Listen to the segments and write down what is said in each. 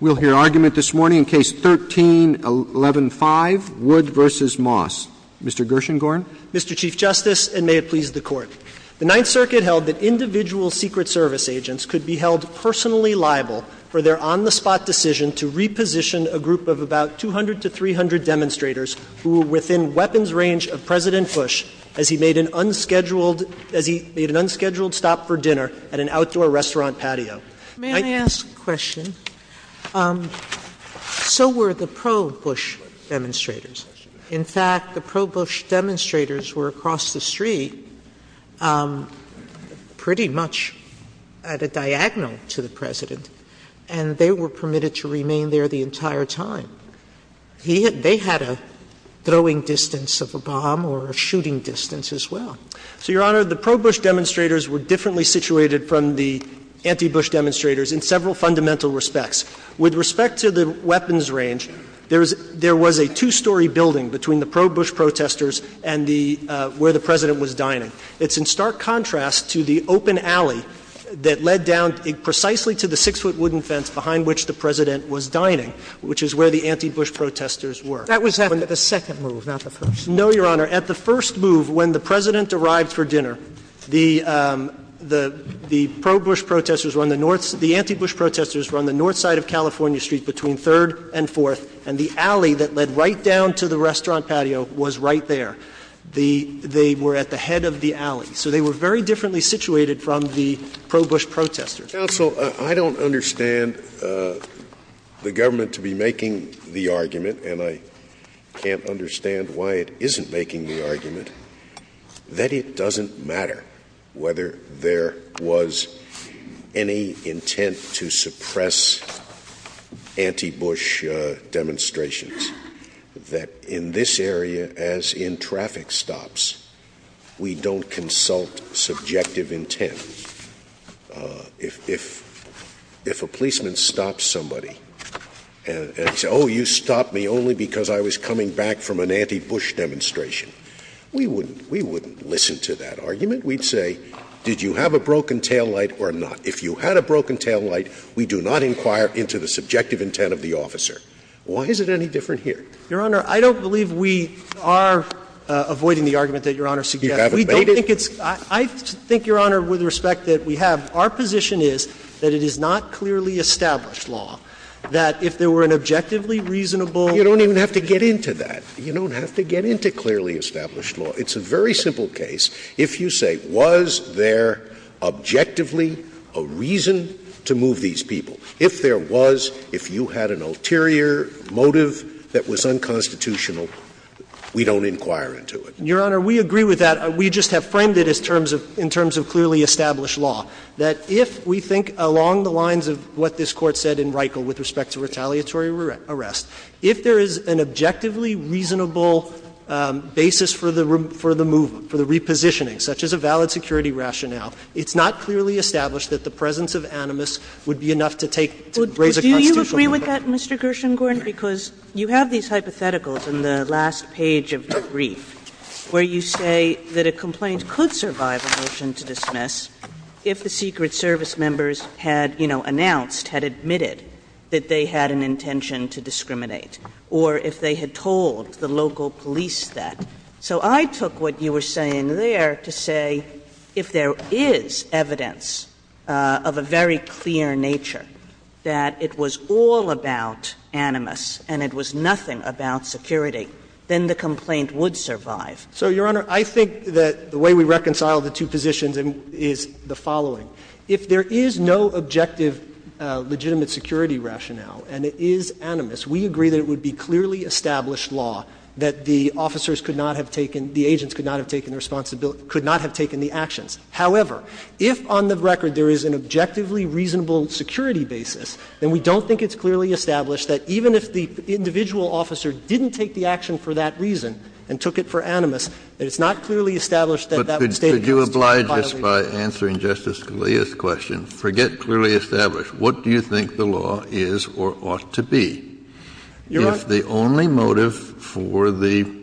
We'll hear argument this morning in Case 13-11-5, Wood v. Moss. Mr. Gershengorn. Mr. Chief Justice, and may it please the Court. The Ninth Circuit held that individual Secret Service agents could be held personally liable for their on-the-spot decision to reposition a group of about 200 to 300 demonstrators who were within weapons range of President Bush as he made an unscheduled stop for dinner at an outdoor restaurant patio. Sotomayor, may I ask a question? So were the pro-Bush demonstrators. In fact, the pro-Bush demonstrators were across the street, pretty much at a diagonal to the President, and they were permitted to remain there the entire time. They had a throwing distance of a bomb or a shooting distance as well. So, Your Honor, the pro-Bush demonstrators were differently situated from the anti-Bush demonstrators in several fundamental respects. With respect to the weapons range, there was a two-story building between the pro-Bush protesters and the — where the President was dining. It's in stark contrast to the open alley that led down precisely to the 6-foot wooden fence behind which the President was dining, which is where the anti-Bush protesters were. That was at the second move, not the first. No, Your Honor. At the first move, when the President arrived for dinner, the pro-Bush protesters were on the north — the anti-Bush protesters were on the north side of California Street, between 3rd and 4th, and the alley that led right down to the restaurant patio was right there. They were at the head of the alley. So they were very differently situated from the pro-Bush protesters. Counsel, I don't understand the government to be making the argument, and I can't understand why it isn't making the argument, that it doesn't matter whether there was any intent to suppress anti-Bush demonstrations, that in this area, as in traffic stops, we don't consult subjective intent. If a policeman stops somebody and says, oh, you stopped me only because I was coming back from an anti-Bush demonstration, we wouldn't listen to that argument. We'd say, did you have a broken taillight or not? If you had a broken taillight, we do not inquire into the subjective intent of the officer. Why is it any different here? Your Honor, I don't believe we are avoiding the argument that Your Honor suggests. You haven't made it? We don't think it's — I think, Your Honor, with respect that we have, our position is that it is not clearly established law, that if there were an objectively reasonable — You don't even have to get into that. You don't have to get into clearly established law. It's a very simple case. If you say, was there objectively a reason to move these people, if there was, if you had an ulterior motive that was unconstitutional, we don't inquire into it. Your Honor, we agree with that. We just have framed it as terms of — in terms of clearly established law, that if we think along the lines of what this Court said in Reichle with respect to retaliatory arrest, if there is an objectively reasonable basis for the — for the movement, for the repositioning, such as a valid security rationale, it's not clearly established that the presence of animus would be enough to take — to raise a constitutional problem. Kagan Do you agree with that, Mr. Gershengorn, because you have these hypotheticals in the last page of the brief where you say that a complaint could survive a motion to dismiss if the Secret Service members had, you know, announced, had admitted that they had an intention to discriminate, or if they had told the local police that. So I took what you were saying there to say if there is evidence of a very clear nature that it was all about animus and it was nothing about security, then the complaint would survive. Gershengorn So, Your Honor, I think that the way we reconcile the two positions is the following. If there is no objective legitimate security rationale and it is animus, we agree that it would be clearly established law that the officers could not have taken — the agents could not have taken responsibility — could not have taken the actions. However, if on the record there is an objectively reasonable security basis, then we don't think it's clearly established that even if the individual officer didn't take the action for that reason and took it for animus, that it's not clearly established that that would stay in place. Kennedy But could you oblige us by answering Justice Scalia's question? Forget clearly established. What do you think the law is or ought to be if the only motive for the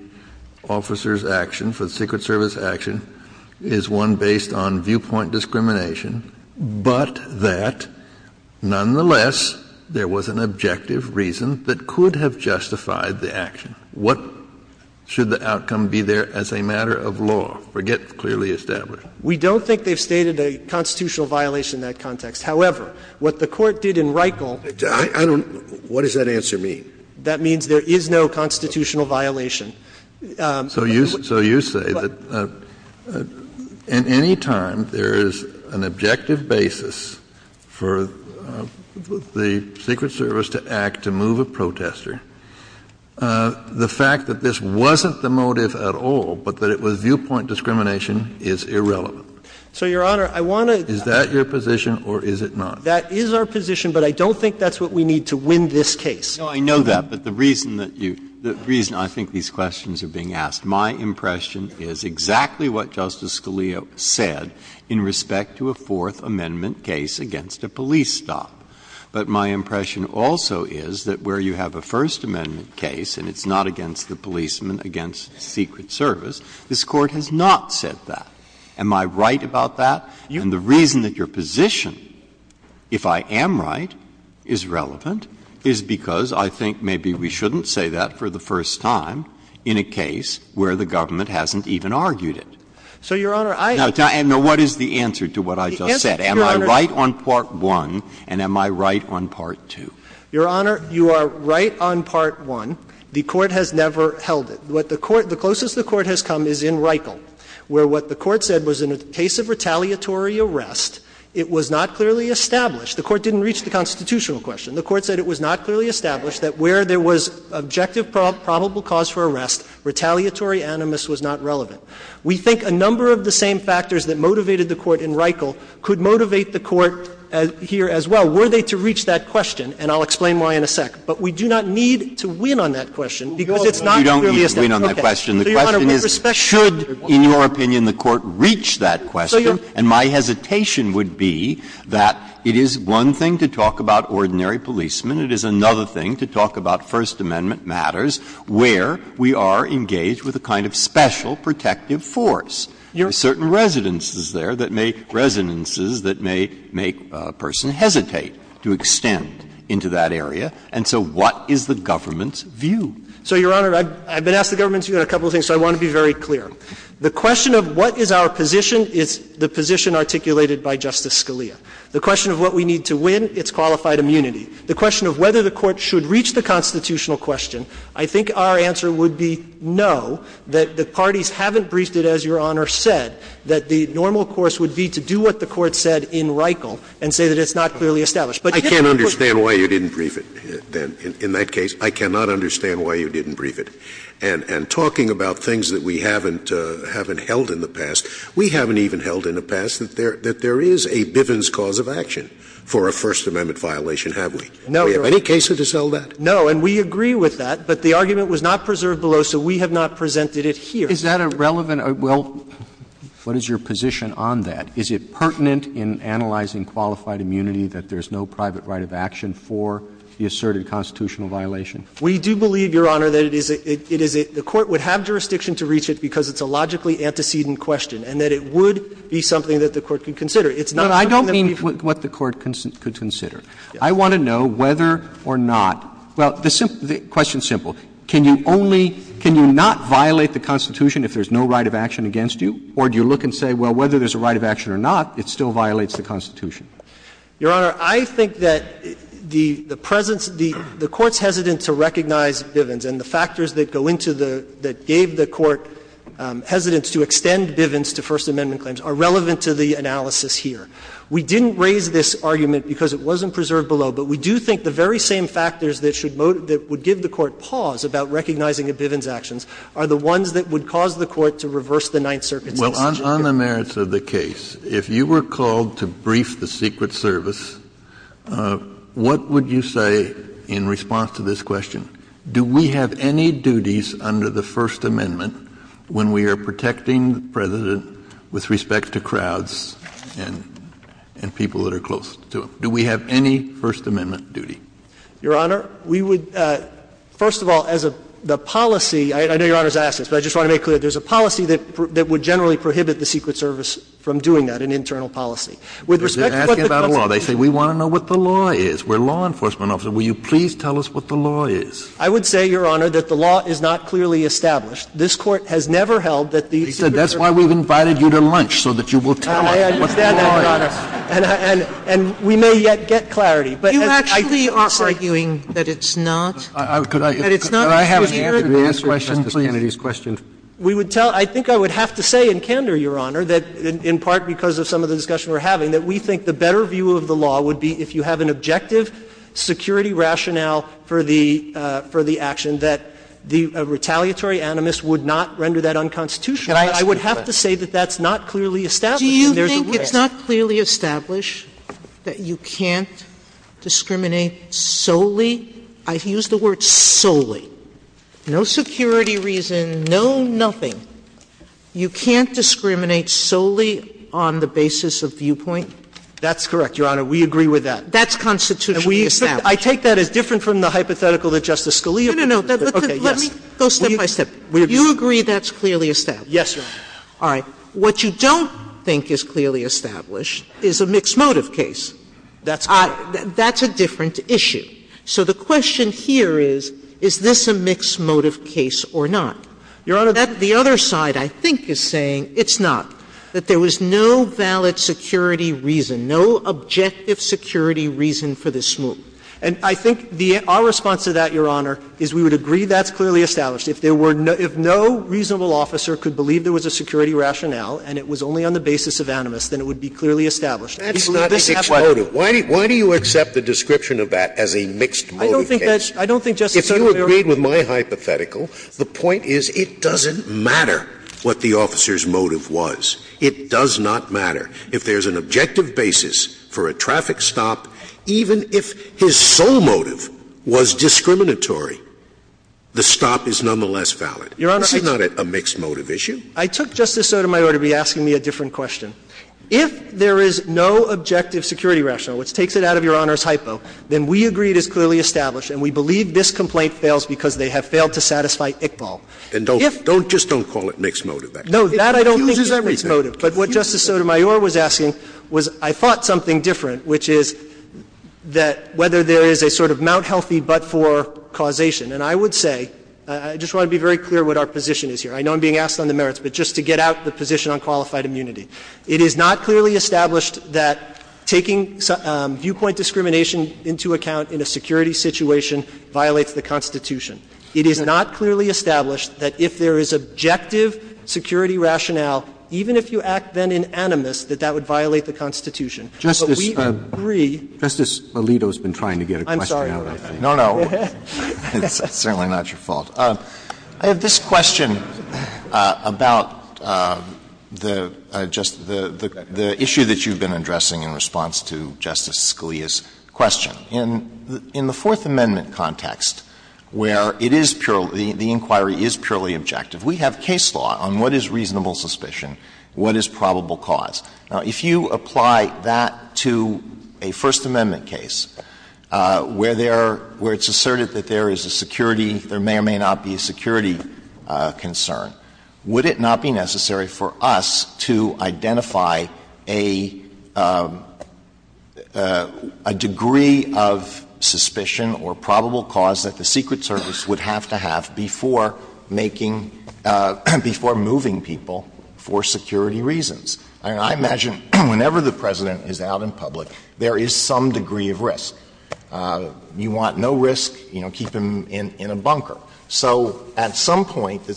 officer's action, for the Secret Service action, is one based on viewpoint discrimination but that nonetheless there was an objective reason that could have justified the action? What should the outcome be there as a matter of law? Forget clearly established. Gershengorn We don't think they've stated a constitutional violation in that context. However, what the Court did in Reichel — Kennedy I don't — what does that answer mean? Gershengorn That means there is no constitutional violation. Kennedy So you — so you say that in any time there is an objective basis for the Secret Service to act to move a protester, the fact that this wasn't the motive at all but that it was viewpoint discrimination is irrelevant. Gershengorn So, Your Honor, I want to — Is that our position or is it not? Gershengorn That is our position, but I don't think that's what we need to win this case. Breyer No, I know that, but the reason that you — the reason I think these questions are being asked, my impression is exactly what Justice Scalia said in respect to a Fourth Amendment case against a police stop. But my impression also is that where you have a First Amendment case and it's not against the policeman, against the Secret Service, this Court has not said that. Am I right about that? And the reason that your position, if I am right, is relevant is because I think maybe we shouldn't say that for the first time in a case where the government hasn't even argued it. Gershengorn So, Your Honor, I — Breyer Now, what is the answer to what I just said? Am I right on Part 1 and am I right on Part 2? Gershengorn Your Honor, you are right on Part 1. The Court has never held it. What the Court — the closest the Court has come is in Reichle, where what the Court said was in a case of retaliatory arrest, it was not clearly established. The Court didn't reach the constitutional question. The Court said it was not clearly established that where there was objective probable cause for arrest, retaliatory animus was not relevant. We think a number of the same factors that motivated the Court in Reichle could motivate the Court here as well. Were they to reach that question, and I'll explain why in a sec, but we do not need to win on that question because it's not really established. Breyer You don't need to win on that question. The question is, should, in your opinion, the Court reach the constitutional question? So, Your Honor — Breyer And my hesitation would be that it is one thing to talk about ordinary policemen. It is another thing to talk about First Amendment matters where we are engaged with a kind of special protective force. There are certain residences there that may — residences that may make a person hesitate to extend into that area, and so what is the government's view? Gershengorn So, Your Honor, I've been asked the government's view on a couple of things, so I want to be very clear. The question of what is our position is the position articulated by Justice Scalia. The question of what we need to win, it's qualified immunity. The question of whether the Court should reach the constitutional question, I think our answer would be no, that the parties haven't briefed it, as Your Honor said, that the normal course would be to do what the Court said in Reichle and say that it's not clearly established. But if the Court— Scalia I can't understand why you didn't brief it, then, in that case. I cannot understand why you didn't brief it. And talking about things that we haven't held in the past, we haven't even held in the past that there is a Bivens cause of action for a First Amendment violation, have we? Do we have any cases to sell that? Gershengorn No, and we agree with that, but the argument was not preserved below, so we have not presented it here. Roberts Is that a relevant — well, what is your position on that? Is it pertinent in analyzing qualified immunity that there's no private right of action for the asserted constitutional violation? Gershengorn We do believe, Your Honor, that it is a — the Court would have jurisdiction to reach it because it's a logically antecedent question and that it would be something that the Court could consider. It's not something that people— Roberts No, I don't mean what the Court could consider. I want to know whether or not — well, the question is simple. Can you only — can you not violate the Constitution if there's no right of action against you, or do you look and say, well, whether there's a right of action or not, it still violates the Constitution? Gershengorn Your Honor, I think that the presence — the Court's hesitant to recognize Bivens, and the factors that go into the — that gave the Court hesitance to extend Bivens to First Amendment claims are relevant to the analysis here. We didn't raise this argument because it wasn't preserved below, but we do think the very same factors that should — that would give the Court pause about recognizing a Bivens action are the ones that would cause the Court to reverse the Ninth Circuit's decision here. Kennedy On the merits of the case, if you were called to brief the Secret Service, what would you say in response to this question? Do we have any duties under the First Amendment when we are protecting the President with respect to crowds and — and people that are close to him? Do we have any First Amendment duty? Gershengorn Your Honor, we would — first of all, as a — the policy — I know Your Honor has said, we don't want to prevent the Secret Service from doing that, an internal policy. With respect to what the Constitution — Kennedy They're asking about the law. They say, we want to know what the law is. We're law enforcement officers. Will you please tell us what the law is? Gershengorn I would say, Your Honor, that the law is not clearly established. This Court has never held that the Secret Service — He said, that's why we've invited you to lunch, so that you will tell us what the law is. Gershengorn I understand that, Your Honor. And I — and we may yet get clarity, but as I think it's arguing that it's not. Kennedy Could I — could I ask you to re-answer Justice Kennedy's question, please? Gershengorn We would tell — I think I would have to say in candor, Your Honor, that in part because of some of the discussion we're having, that we think the better view of the law would be if you have an objective security rationale for the — for the action, that the retaliatory animus would not render that unconstitutional. I would have to say that that's not clearly established. And there's a — Sotomayor Do you think it's not clearly established that you can't discriminate solely — I've nothing. You can't discriminate solely on the basis of viewpoint? Gershengorn That's correct, Your Honor. We agree with that. Sotomayor That's constitutionally established. Gershengorn I take that as different from the hypothetical that Justice Scalia put forth. Sotomayor No, no, no. Gershengorn Okay. Yes. Sotomayor Let me go step by step. Gershengorn We agree. Sotomayor You agree that's clearly established? Gershengorn Yes, Your Honor. Sotomayor All right. What you don't think is clearly established is a mixed motive case. Gershengorn That's correct. Sotomayor That's a different issue. So the question here is, is this a mixed motive case or not? Gershengorn Your Honor, the other side, I think, is saying it's not, that there was no valid security reason, no objective security reason for this move. Sotomayor And I think our response to that, Your Honor, is we would agree that's clearly established. If there were no — if no reasonable officer could believe there was a security rationale and it was only on the basis of animus, then it would be clearly established. Scalia That's not a mixed motive. Why do you accept the description of that as a mixed motive case? I don't think that's — I don't think, Justice Sotomayor — Scalia If you agreed with my hypothetical, the point is it doesn't matter what the officer's motive was. It does not matter. If there's an objective basis for a traffic stop, even if his sole motive was discriminatory, the stop is nonetheless valid. Gershengorn Your Honor — Scalia Isn't that a mixed motive issue? Gershengorn I took Justice Sotomayor to be asking me a different question. If there is no objective security rationale, which takes it out of Your Honor's hypo, then we agree it is clearly established and we believe this complaint fails because they have failed to satisfy Iqbal. Scalia And don't — don't just don't call it mixed motive. Gershengorn No, that I don't think is mixed motive. But what Justice Sotomayor was asking was I thought something different, which is that whether there is a sort of Mount Healthy but-for causation. And I would say — I just want to be very clear what our position is here. I know I'm being asked on the merits, but just to get out the position on qualified immunity. It is not clearly established that taking viewpoint discrimination into account in a security situation violates the Constitution. It is not clearly established that if there is objective security rationale, even if you act then in animus, that that would violate the Constitution. But we agree — Roberts Justice Alito has been trying to get a question out of me. Gershengorn I'm sorry. No, no. It's certainly not your fault. I have this question about the — just the issue that you've been addressing in response to Justice Scalia's question. In the Fourth Amendment context, where it is purely — the inquiry is purely objective, we have case law on what is reasonable suspicion, what is probable cause. Now, if you apply that to a First Amendment case where there are — where it's asserted that there is a security — there may or may not be a security concern, would it not be necessary for us to identify a — a degree of suspicion or probable cause that the Secret Service would have to have before making — before moving people for security reasons? I mean, I imagine whenever the President is out in public, there is some degree of risk. You want no risk, you know, keep him in a bunker. So at some point, do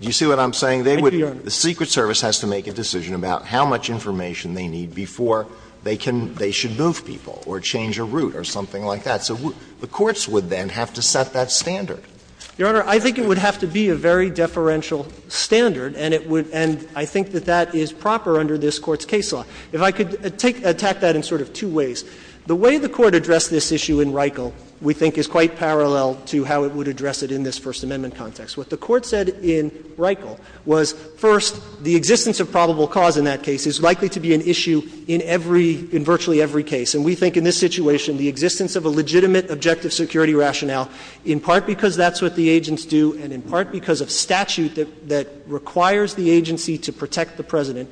you see what I'm saying? Thank you, Your Honor. Alito The Secret Service has to make a decision about how much information they need before they can — they should move people or change a route or something like that. So the courts would then have to set that standard. Gershengorn Your Honor, I think it would have to be a very deferential standard, and it would — and I think that that is proper under this Court's case law. If I could take — attack that in sort of two ways. The way the Court addressed this issue in Reichel, we think, is quite parallel to how it would address it in this First Amendment context. What the Court said in Reichel was, first, the existence of probable cause in that case is likely to be an issue in every — in virtually every case. And we think in this situation, the existence of a legitimate objective security rationale, in part because that's what the agents do and in part because of statute that requires the agency to protect the President,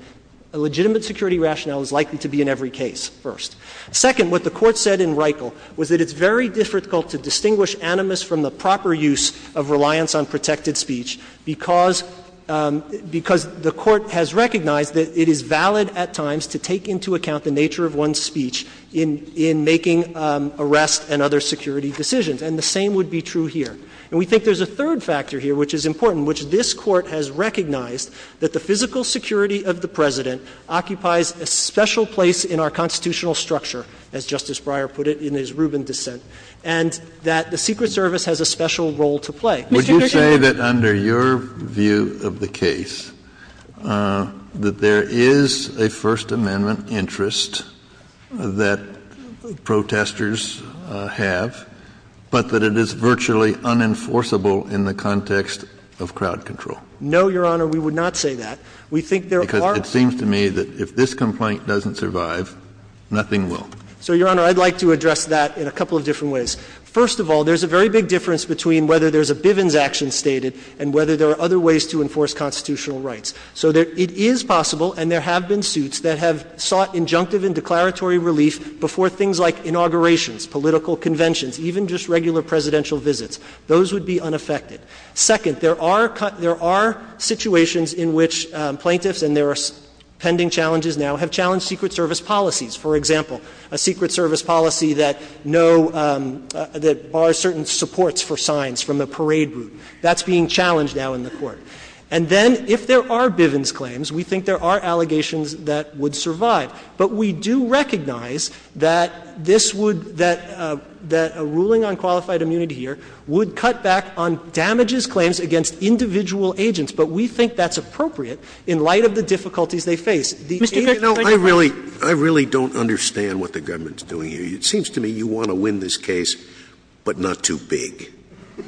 a legitimate security rationale is likely to be in every case, first. Second, what the Court said in Reichel was that it's very difficult to distinguish animus from the proper use of reliance on protected speech because — because the Court has recognized that it is valid at times to take into account the nature of one's speech in — in making arrest and other security decisions. And the same would be true here. And we think there's a third factor here which is important, which this Court has recognized, that the physical security of the President occupies a special place in our constitutional structure, as Justice Breyer put it in his Rubin dissent, and that the Secret Service has a special role to play. Mr. Gershengorn — Would you say that under your view of the case, that there is a First Amendment interest that protesters have, but that it is virtually unenforceable in the context of crowd control? No, Your Honor, we would not say that. We think there are — Because it seems to me that if this complaint doesn't survive, nothing will. So, Your Honor, I'd like to address that in a couple of different ways. First of all, there's a very big difference between whether there's a Bivens action stated and whether there are other ways to enforce constitutional rights. So there — it is possible, and there have been suits that have sought injunctive and declaratory relief before things like inaugurations, political conventions, even just regular presidential visits. Those would be unaffected. Second, there are — there are situations in which plaintiffs, and there are pending challenges now, have challenged Secret Service policies. For example, a Secret Service policy that no — that bars certain supports for signs from the parade route. That's being challenged now in the Court. And then, if there are Bivens claims, we think there are allegations that would survive. But we do recognize that this would — that a ruling on qualified immunity here would cut back on damages claims against individual agents. But we think that's appropriate in light of the difficulties they face. The — Mr. Kagan — You know, I really — I really don't understand what the government's doing here. It seems to me you want to win this case, but not too big.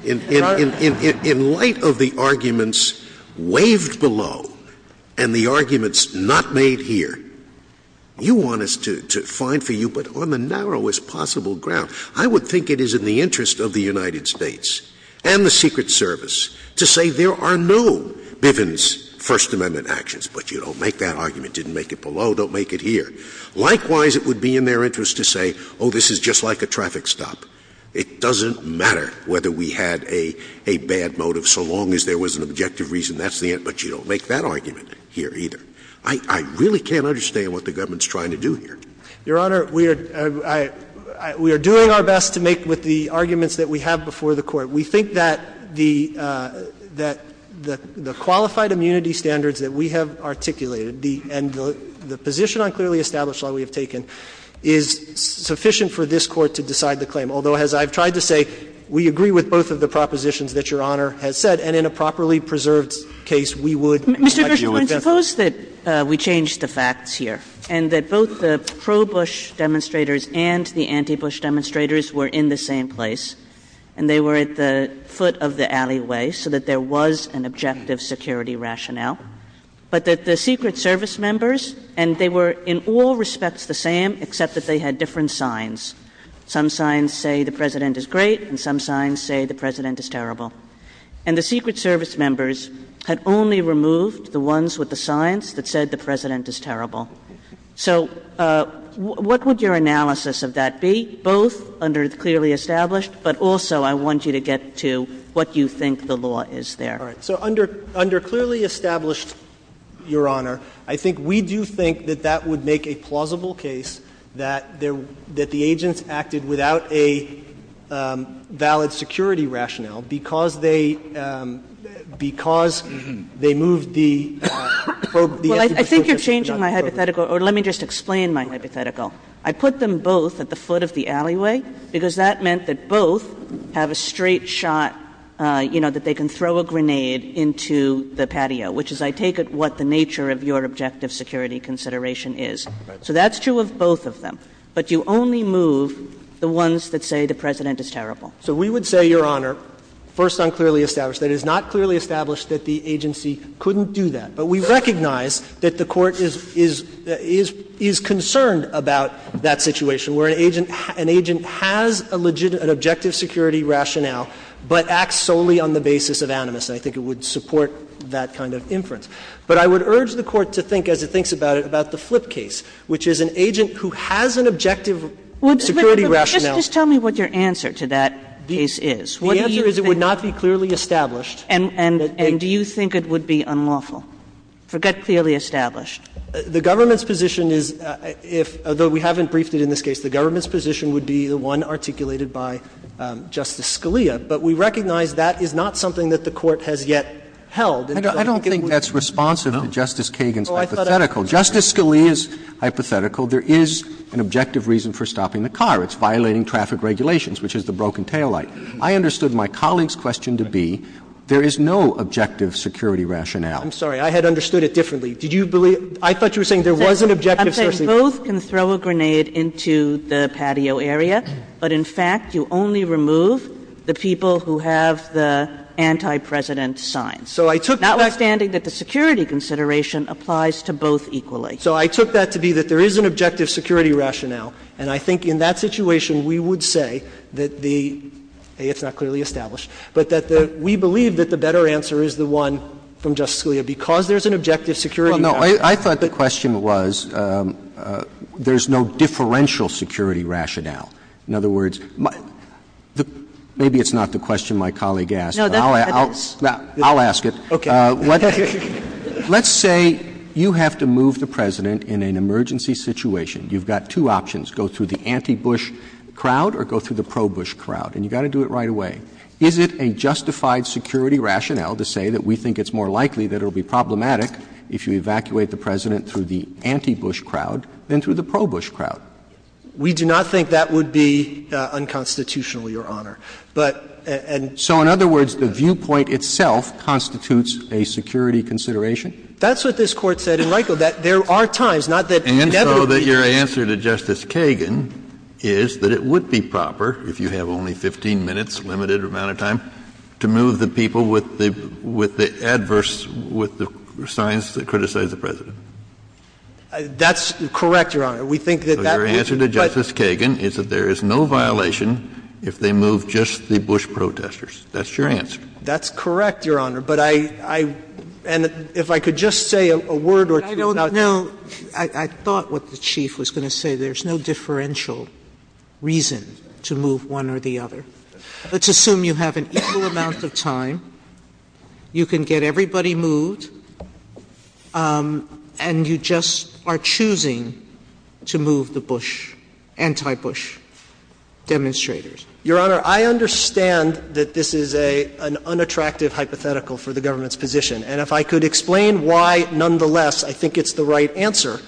In light of the arguments waved below and the arguments not made here, you want us to find for you, but on the narrowest possible ground, I would think it is in the interest of the United States and the Secret Service to say there are no Bivens First Amendment actions, but you don't make that argument, didn't make it below, don't make it here. Likewise, it would be in their interest to say, oh, this is just like a traffic stop. It doesn't matter whether we had a bad motive, so long as there was an objective reason, that's the end. But you don't make that argument here either. I really can't understand what the government's trying to do here. Your Honor, we are — we are doing our best to make with the arguments that we have before the Court. We think that the — that the qualified immunity standards that we have articulated and the position on clearly established law we have taken is sufficient for this claim, although, as I've tried to say, we agree with both of the propositions that Your Honor has said, and in a properly preserved case, we would argue it best. Kagan. Mr. Gershengorn, suppose that we change the facts here and that both the pro-Bush demonstrators and the anti-Bush demonstrators were in the same place and they were at the foot of the alleyway so that there was an objective security rationale, but that the Secret Service members, and they were in all respects the same except that they had different signs. Some signs say the President is great and some signs say the President is terrible. And the Secret Service members had only removed the ones with the signs that said the President is terrible. So what would your analysis of that be, both under clearly established, but also I want you to get to what you think the law is there. All right. So under clearly established, Your Honor, I think we do think that that would make a plausible case that the agents acted without a valid security rationale because they, because they moved the anti-Bush demonstrators. Well, I think you're changing my hypothetical. Or let me just explain my hypothetical. I put them both at the foot of the alleyway because that meant that both have a straight shot, you know, that they can throw a grenade into the patio, which is, I take it, what the nature of your objective security consideration is. So that's true of both of them. But you only move the ones that say the President is terrible. So we would say, Your Honor, first on clearly established, that it is not clearly established that the agency couldn't do that. But we recognize that the Court is concerned about that situation where an agent has an objective security rationale but acts solely on the basis of animus. And I think it would support that kind of inference. But I would urge the Court to think, as it thinks about it, about the Flip case, which is an agent who has an objective security rationale. But just tell me what your answer to that case is. The answer is it would not be clearly established. And do you think it would be unlawful? Forget clearly established. The government's position is, if, although we haven't briefed it in this case, the government's position would be the one articulated by Justice Scalia. But we recognize that is not something that the Court has yet held. I don't think that's responsive to Justice Kagan's hypothetical. Justice Scalia's hypothetical, there is an objective reason for stopping the car. It's violating traffic regulations, which is the broken taillight. I understood my colleague's question to be, there is no objective security rationale. I'm sorry. I had understood it differently. Did you believe? I thought you were saying there was an objective security rationale. I'm saying both can throw a grenade into the patio area. But in fact, you only remove the people who have the anti-President signs. Notwithstanding that the security consideration applies to both equally. So I took that to be that there is an objective security rationale. And I think in that situation, we would say that the, A, it's not clearly established. But that we believe that the better answer is the one from Justice Scalia, because there is an objective security rationale. No. I thought the question was, there is no differential security rationale. In other words, maybe it's not the question my colleague asked. No. I'll ask it. Let's say you have to move the President in an emergency situation. You've got two options. Go through the anti-Bush crowd or go through the pro-Bush crowd. And you've got to do it right away. Is it a justified security rationale to say that we think it's more likely that it will be problematic if you evacuate the President through the anti-Bush crowd than through the pro-Bush crowd? We do not think that would be unconstitutional, Your Honor. So in other words, the viewpoint itself constitutes a security consideration? That's what this Court said in Riegel, that there are times, not that inevitably it's not. And so that your answer to Justice Kagan is that it would be proper, if you have only 15 minutes, limited amount of time, to move the people with the adverse – with the signs that criticize the President? That's correct, Your Honor. We think that that would be, but. Justice Kagan is that there is no violation if they move just the Bush protesters. That's your answer. That's correct, Your Honor. But I – and if I could just say a word or two about. No. I thought what the Chief was going to say. There's no differential reason to move one or the other. Let's assume you have an equal amount of time, you can get everybody moved, and you just are choosing to move the Bush, anti-Bush demonstrators. Your Honor, I understand that this is an unattractive hypothetical for the government's position. And if I could explain why, nonetheless, I think it's the right answer,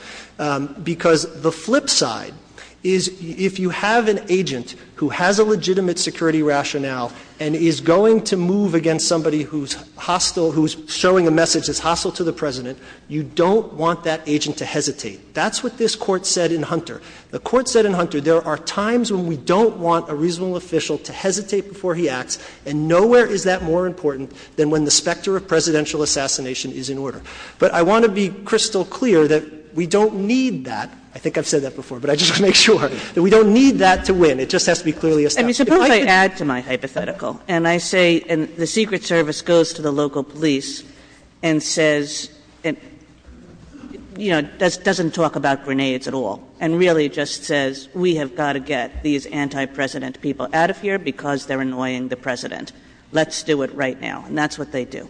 because the flip side is if you have an agent who has a legitimate security rationale and is going to move against somebody who's hostile, who's showing a message that's going to be a threat, then you have to have a reasonable agent to hesitate. That's what this Court said in Hunter. The Court said in Hunter there are times when we don't want a reasonable official to hesitate before he acts, and nowhere is that more important than when the specter of presidential assassination is in order. But I want to be crystal clear that we don't need that. I think I've said that before, but I just want to make sure that we don't need that to win. It just has to be clearly established. I mean, suppose I add to my hypothetical, and I say the Secret Service goes to the local police and says, you know, doesn't talk about grenades at all, and really just says, we have got to get these anti-President people out of here because they're annoying the President. Let's do it right now. And that's what they do.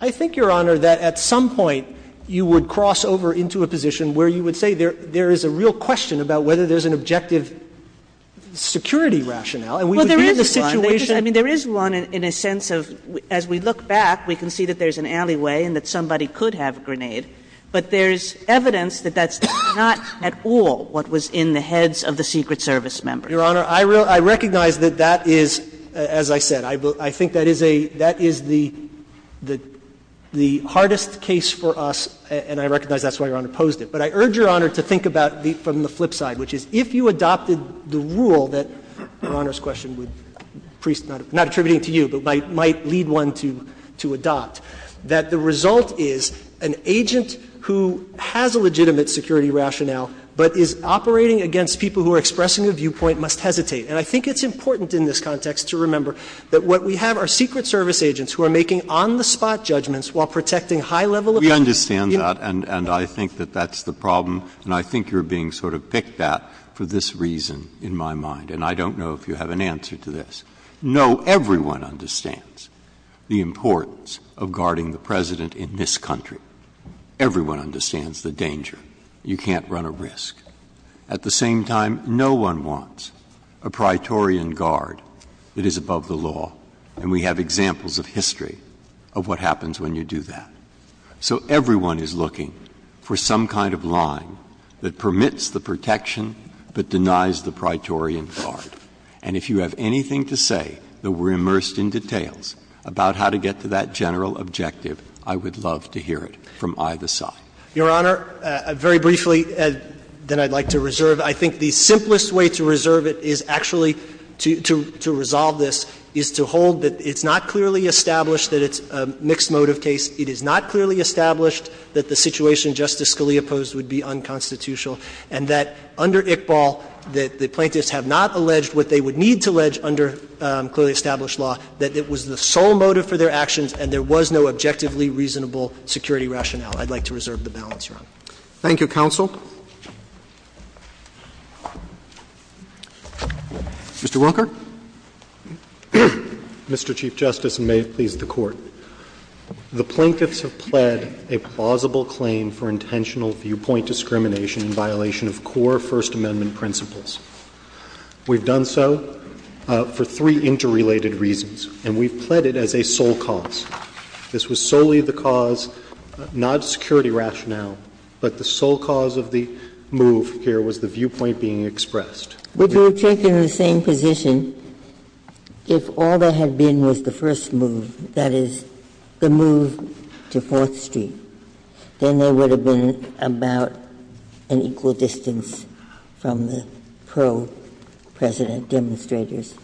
I think, Your Honor, that at some point you would cross over into a position where you would say there is a real question about whether there's an objective security rationale, and we would be in the situation. I mean, there is one in a sense of, as we look back, we can see that there's an alleyway and that somebody could have a grenade, but there's evidence that that's not at all what was in the heads of the Secret Service members. Your Honor, I recognize that that is, as I said, I think that is a — that is the hardest case for us, and I recognize that's why Your Honor posed it. But I urge Your Honor to think about it from the flip side, which is if you adopted the rule that Your Honor's question would — not attributing to you, but might lead one to adopt, that the result is an agent who has a legitimate security rationale, but is operating against people who are expressing a viewpoint must hesitate. And I think it's important in this context to remember that what we have are Secret Service agents who are making on-the-spot judgments while protecting high-level officials. Breyer. We understand that, and I think that that's the problem, and I think you're being sort of picked at for this reason in my mind. And I don't know if you have an answer to this. No, everyone understands the importance of guarding the President in this country. Everyone understands the danger. You can't run a risk. At the same time, no one wants a praetorian guard that is above the law. And we have examples of history of what happens when you do that. So everyone is looking for some kind of line that permits the protection but denies the praetorian guard. And if you have anything to say that we're immersed in details about how to get to that general objective, I would love to hear it from either side. Your Honor, very briefly, then I'd like to reserve. I think the simplest way to reserve it is actually to — to resolve this is to hold that it's not clearly established that it's a mixed motive case. It is not clearly established that the situation Justice Scalia posed would be unconstitutional, and that under Iqbal, that the plaintiffs have not alleged what they would need to allege under clearly established law, that it was the sole motive for their actions and there was no objectively reasonable security rationale. I'd like to reserve the balance, Your Honor. Thank you, counsel. Mr. Wunker. Mr. Chief Justice, and may it please the Court. The plaintiffs have pled a plausible claim for intentional viewpoint discrimination in violation of core First Amendment principles. We've done so for three interrelated reasons, and we've pled it as a sole cause. This was solely the cause, not security rationale, but the sole cause of the plaintiffs' claim, and the sole cause of the move here was the viewpoint being expressed. Would you have taken the same position if all there had been was the first move, that is, the move to Fourth Street, then there would have been about an equal distance from the pro-President demonstrators?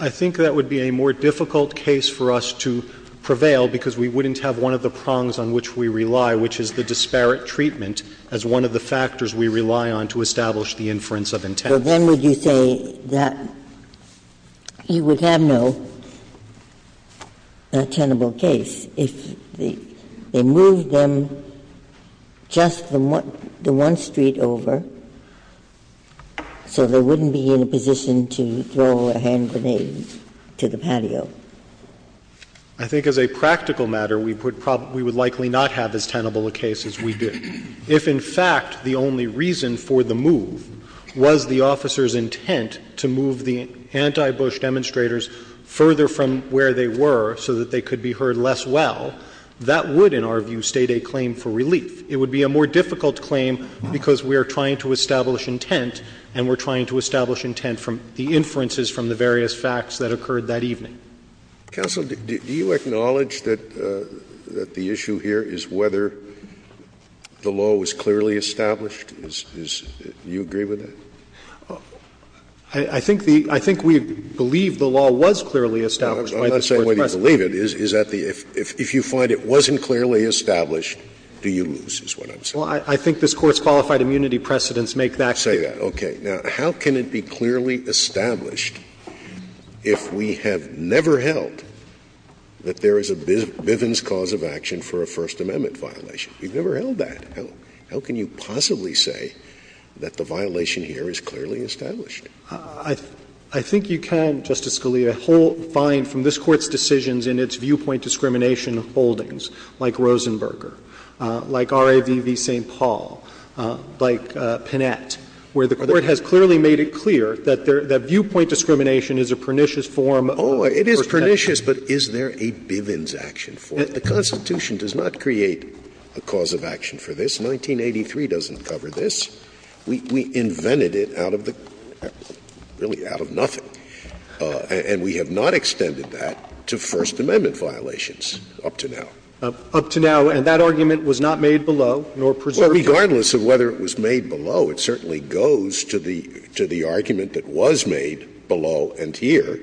I think that would be a more difficult case for us to prevail because we wouldn't have one of the prongs on which we rely, which is the disparate treatment, as one of the factors we rely on to establish the inference of intent. But then would you say that you would have no tenable case if they moved them just the one street over so they wouldn't be in a position to throw a hand grenade to the patio? I think as a practical matter, we would likely not have as tenable a case as we do. If, in fact, the only reason for the move was the officer's intent to move the anti-Bush demonstrators further from where they were so that they could be heard less well, that would, in our view, state a claim for relief. It would be a more difficult claim because we are trying to establish intent and we're trying to establish intent from the inferences from the various facts that we have. Scalia, do you acknowledge that the issue here is whether the law was clearly established? Do you agree with that? I think we believe the law was clearly established by this Court's precedent. I'm not saying whether you believe it. If you find it wasn't clearly established, do you lose, is what I'm saying. Well, I think this Court's qualified immunity precedents make that clear. Say that, okay. Now, how can it be clearly established if we have never held that there is a Bivens cause of action for a First Amendment violation? We've never held that. How can you possibly say that the violation here is clearly established? I think you can, Justice Scalia, find from this Court's decisions in its viewpoint discrimination holdings, like Rosenberger, like RAVV St. Paul, like Pinette, where the Court has clearly made it clear that viewpoint discrimination is a pernicious form of protection. Oh, it is pernicious, but is there a Bivens action for it? The Constitution does not create a cause of action for this. 1983 doesn't cover this. We invented it out of the — really out of nothing. And we have not extended that to First Amendment violations up to now. And that argument was not made below, nor preserved below. Well, regardless of whether it was made below, it certainly goes to the argument that was made below and here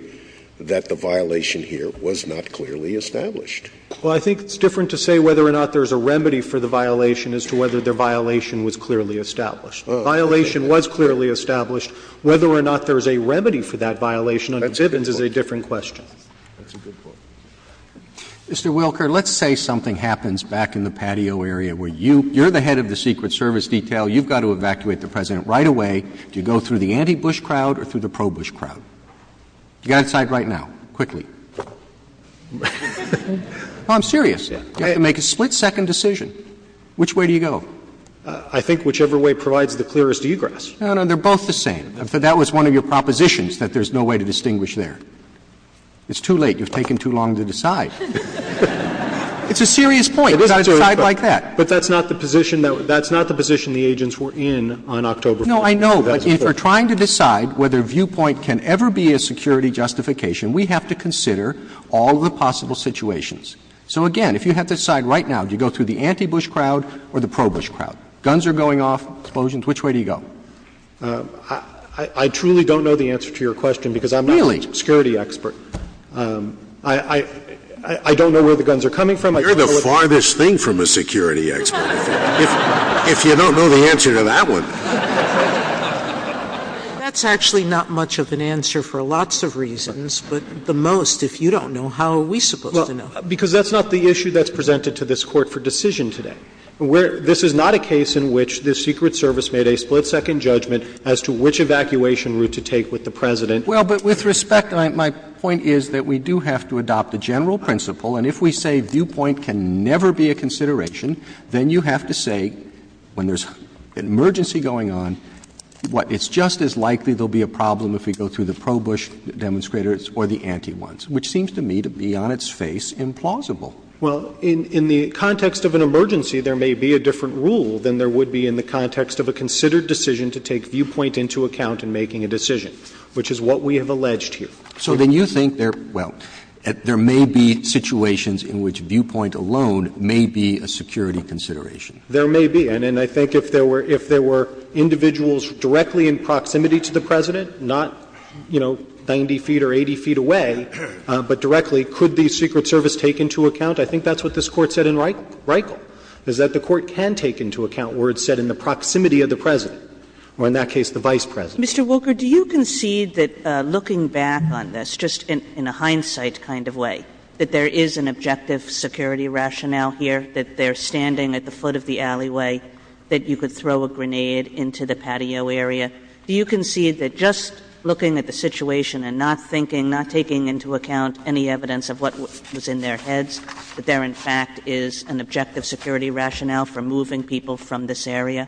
that the violation here was not clearly established. Well, I think it's different to say whether or not there is a remedy for the violation as to whether the violation was clearly established. The violation was clearly established. Whether or not there is a remedy for that violation under Bivens is a different question. That's a good point. Mr. Wilker, let's say something happens back in the patio area where you — you're the head of the Secret Service detail. You've got to evacuate the President right away. Do you go through the anti-Bush crowd or through the pro-Bush crowd? You've got to decide right now, quickly. Well, I'm serious. You have to make a split-second decision. Which way do you go? I think whichever way provides the clearest egress. No, no, they're both the same. That was one of your propositions, that there's no way to distinguish there. It's too late. You've taken too long to decide. It's a serious point. You've got to decide like that. But that's not the position that — that's not the position the agents were in on October 1st. No, I know. But if you're trying to decide whether viewpoint can ever be a security justification, we have to consider all of the possible situations. So again, if you have to decide right now, do you go through the anti-Bush crowd or the pro-Bush crowd? Guns are going off, explosions. Which way do you go? I truly don't know the answer to your question because I'm not a security expert. Really? I don't know where the guns are coming from. You're the farthest thing from a security expert. If you don't know the answer to that one. That's actually not much of an answer for lots of reasons. But the most, if you don't know, how are we supposed to know? Because that's not the issue that's presented to this Court for decision today. This is not a case in which the Secret Service made a split-second judgment as to which evacuation route to take with the President. Well, but with respect, my point is that we do have to adopt a general principle. And if we say viewpoint can never be a consideration, then you have to say when there's an emergency going on, it's just as likely there will be a problem if we go through the pro-Bush demonstrators or the anti-ones, which seems to me to be on its face implausible. Well, in the context of an emergency, there may be a different rule than there would be in the context of a considered decision to take viewpoint into account in making a decision, which is what we have alleged here. So then you think there, well, there may be situations in which viewpoint alone may be a security consideration. There may be. And I think if there were individuals directly in proximity to the President, not, you know, 90 feet or 80 feet away, but directly, could the Secret Service take into account? I think that's what this Court said in Reichle, is that the Court can take into account where it said in the proximity of the President, or in that case the Vice President. Mr. Woker, do you concede that, looking back on this, just in a hindsight kind of way, that there is an objective security rationale here, that they're standing at the foot of the alleyway, that you could throw a grenade into the patio area? Do you concede that just looking at the situation and not thinking, not taking into account any evidence of what was in their heads, that there, in fact, is an objective security rationale for moving people from this area?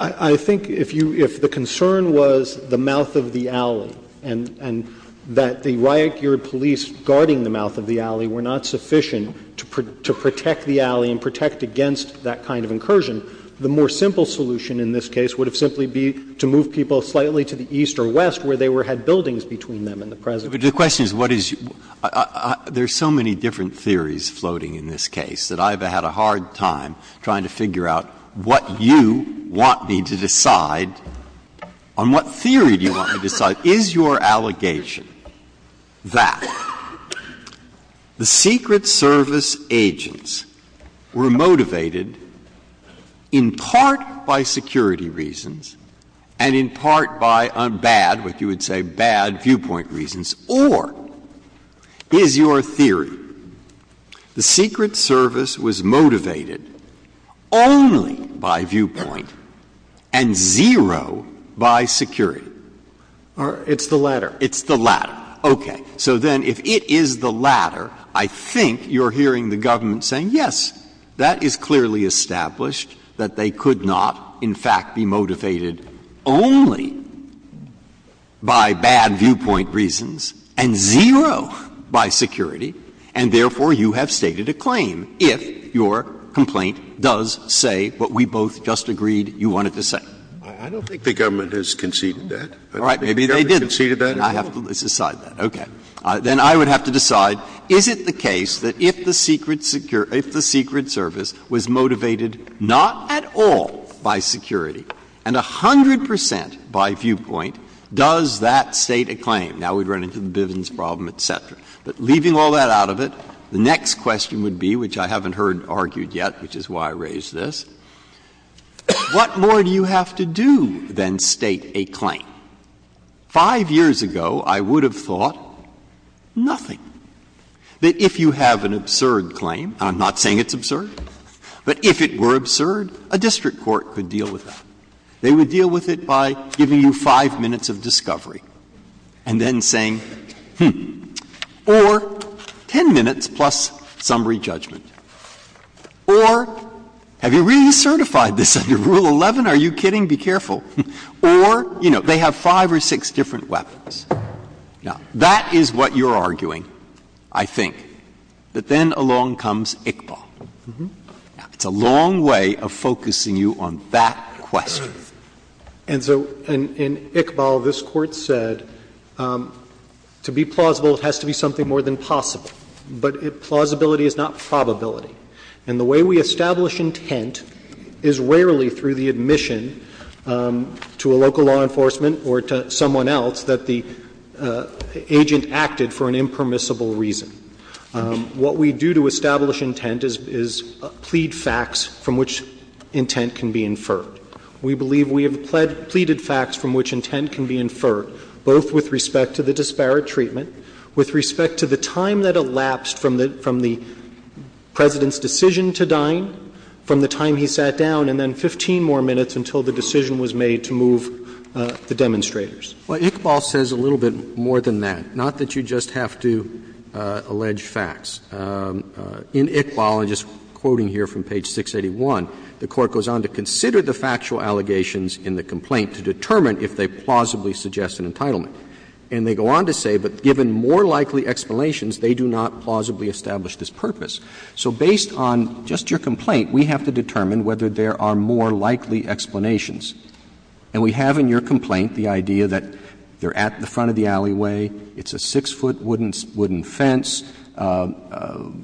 I think if you — if the concern was the mouth of the alley and that the riot-geared police guarding the mouth of the alley were not sufficient to protect the alley and protect against that kind of incursion, the more simple solution in this case would have simply been to move people slightly to the east or west where they had buildings between them and the President. But the question is what is — there are so many different theories floating in this case that I've had a hard time trying to figure out what you want me to decide on what theory do you want me to decide. Is your allegation that the Secret Service agents were motivated in part by security reasons and in part by bad, what you would say bad, viewpoint reasons, or is your theory the Secret Service was motivated only by viewpoint and zero by security? It's the latter. It's the latter. Okay. So then if it is the latter, I think you're hearing the government saying, yes, that is clearly established, that they could not, in fact, be motivated only by bad viewpoint reasons and zero by security, and therefore you have stated a claim if your complaint does say what we both just agreed you wanted to say. I don't think the government has conceded that. All right. Maybe they didn't. I have to decide that. Okay. Then I would have to decide is it the case that if the Secret Service was motivated not at all by security and 100 percent by viewpoint, does that state a claim? Now we've run into the Bivens problem, et cetera. But leaving all that out of it, the next question would be, which I haven't heard argued yet, which is why I raised this, what more do you have to do than state a claim? Five years ago, I would have thought nothing, that if you have an absurd claim, and I'm not saying it's absurd, but if it were absurd, a district court could deal with that. They would deal with it by giving you five minutes of discovery and then saying, hmm, or 10 minutes plus summary judgment, or have you really certified this under Rule 11? Are you kidding? Be careful. Or, you know, they have five or six different weapons. Now, that is what you're arguing, I think, but then along comes Iqbal. Now, it's a long way of focusing you on that question. And so in Iqbal, this Court said to be plausible, it has to be something more than possible, but plausibility is not probability. And the way we establish intent is rarely through the admission to a local law enforcement or to someone else that the agent acted for an impermissible reason. What we do to establish intent is plead facts from which intent can be inferred. We believe we have pleaded facts from which intent can be inferred, both with respect to the disparate treatment, with respect to the time that elapsed from the President's decision to dine, from the time he sat down, and then 15 more minutes until the decision was made to move the demonstrators. Well, Iqbal says a little bit more than that. Not that you just have to allege facts. In Iqbal, and just quoting here from page 681, the Court goes on to consider the factual allegations in the complaint to determine if they plausibly suggest an entitlement. And they go on to say, but given more likely explanations, they do not plausibly establish this purpose. So based on just your complaint, we have to determine whether there are more likely explanations, and we have in your complaint the idea that they're at the front of the alleyway, it's a six-foot wooden fence. Can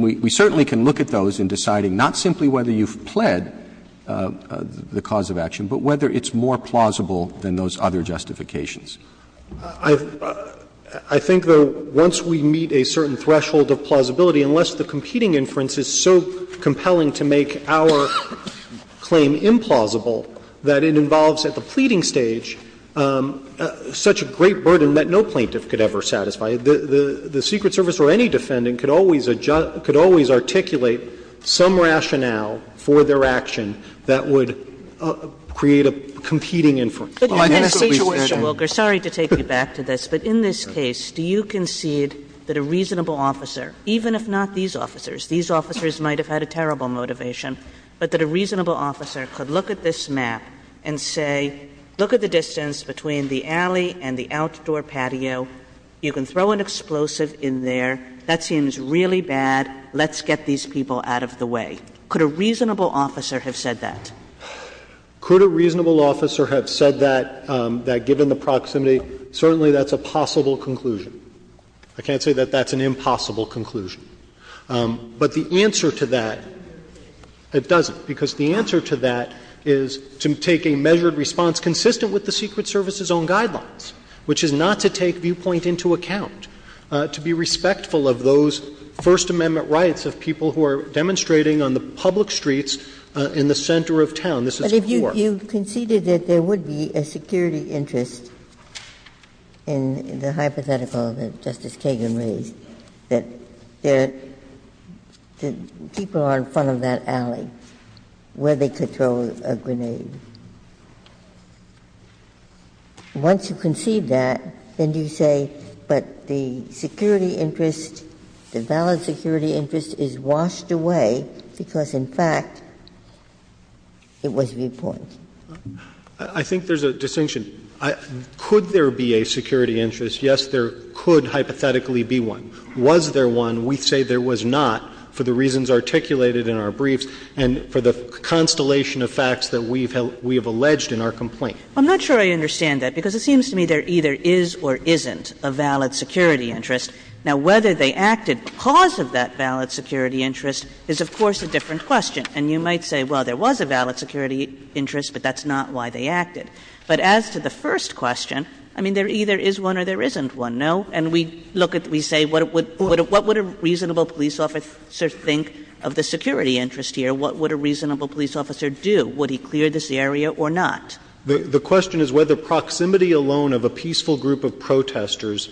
we — we certainly can look at those in deciding not simply whether you've pled the cause of action, but whether it's more plausible than those other justifications. I think, though, once we meet a certain threshold of plausibility, unless the competing inference is so compelling to make our claim implausible that it involves at the pleading stage such a great burden that no plaintiff could ever satisfy, the Secret Service or any defendant could always articulate some rationale for their action that would create a competing inference. Kagan. Well, I think that's what we said. Situation, Wilker. Sorry to take you back to this. But in this case, do you concede that a reasonable officer, even if not these officers, these officers might have had a terrible motivation, but that a reasonable officer could look at this map and say, look at the distance between the alley and the outdoor patio. You can throw an explosive in there. That seems really bad. Let's get these people out of the way. Could a reasonable officer have said that? Could a reasonable officer have said that, that given the proximity, certainly that's a possible conclusion. I can't say that that's an impossible conclusion. But the answer to that, it doesn't, because the answer to that is to take a measured response consistent with the Secret Service's own guidelines, which is not to take viewpoint into account, to be respectful of those First Amendment rights of people who are demonstrating on the public streets in the center of town. This is poor. You conceded that there would be a security interest in the hypothetical that Justice Kagan raised, that the people are in front of that alley where they could throw a grenade. Once you concede that, then do you say, but the security interest, the valid security interest is washed away because, in fact, it was viewpoint? I think there's a distinction. Could there be a security interest? Yes, there could hypothetically be one. Was there one? We say there was not for the reasons articulated in our briefs and for the constellation of facts that we have alleged in our complaint. I'm not sure I understand that, because it seems to me there either is or isn't a valid security interest. Now, whether they acted because of that valid security interest is, of course, a different question. And you might say, well, there was a valid security interest, but that's not why they acted. But as to the first question, I mean, there either is one or there isn't one, no? And we look at, we say, what would a reasonable police officer think of the security interest here? What would a reasonable police officer do? Would he clear this area or not? The question is whether proximity alone of a peaceful group of protesters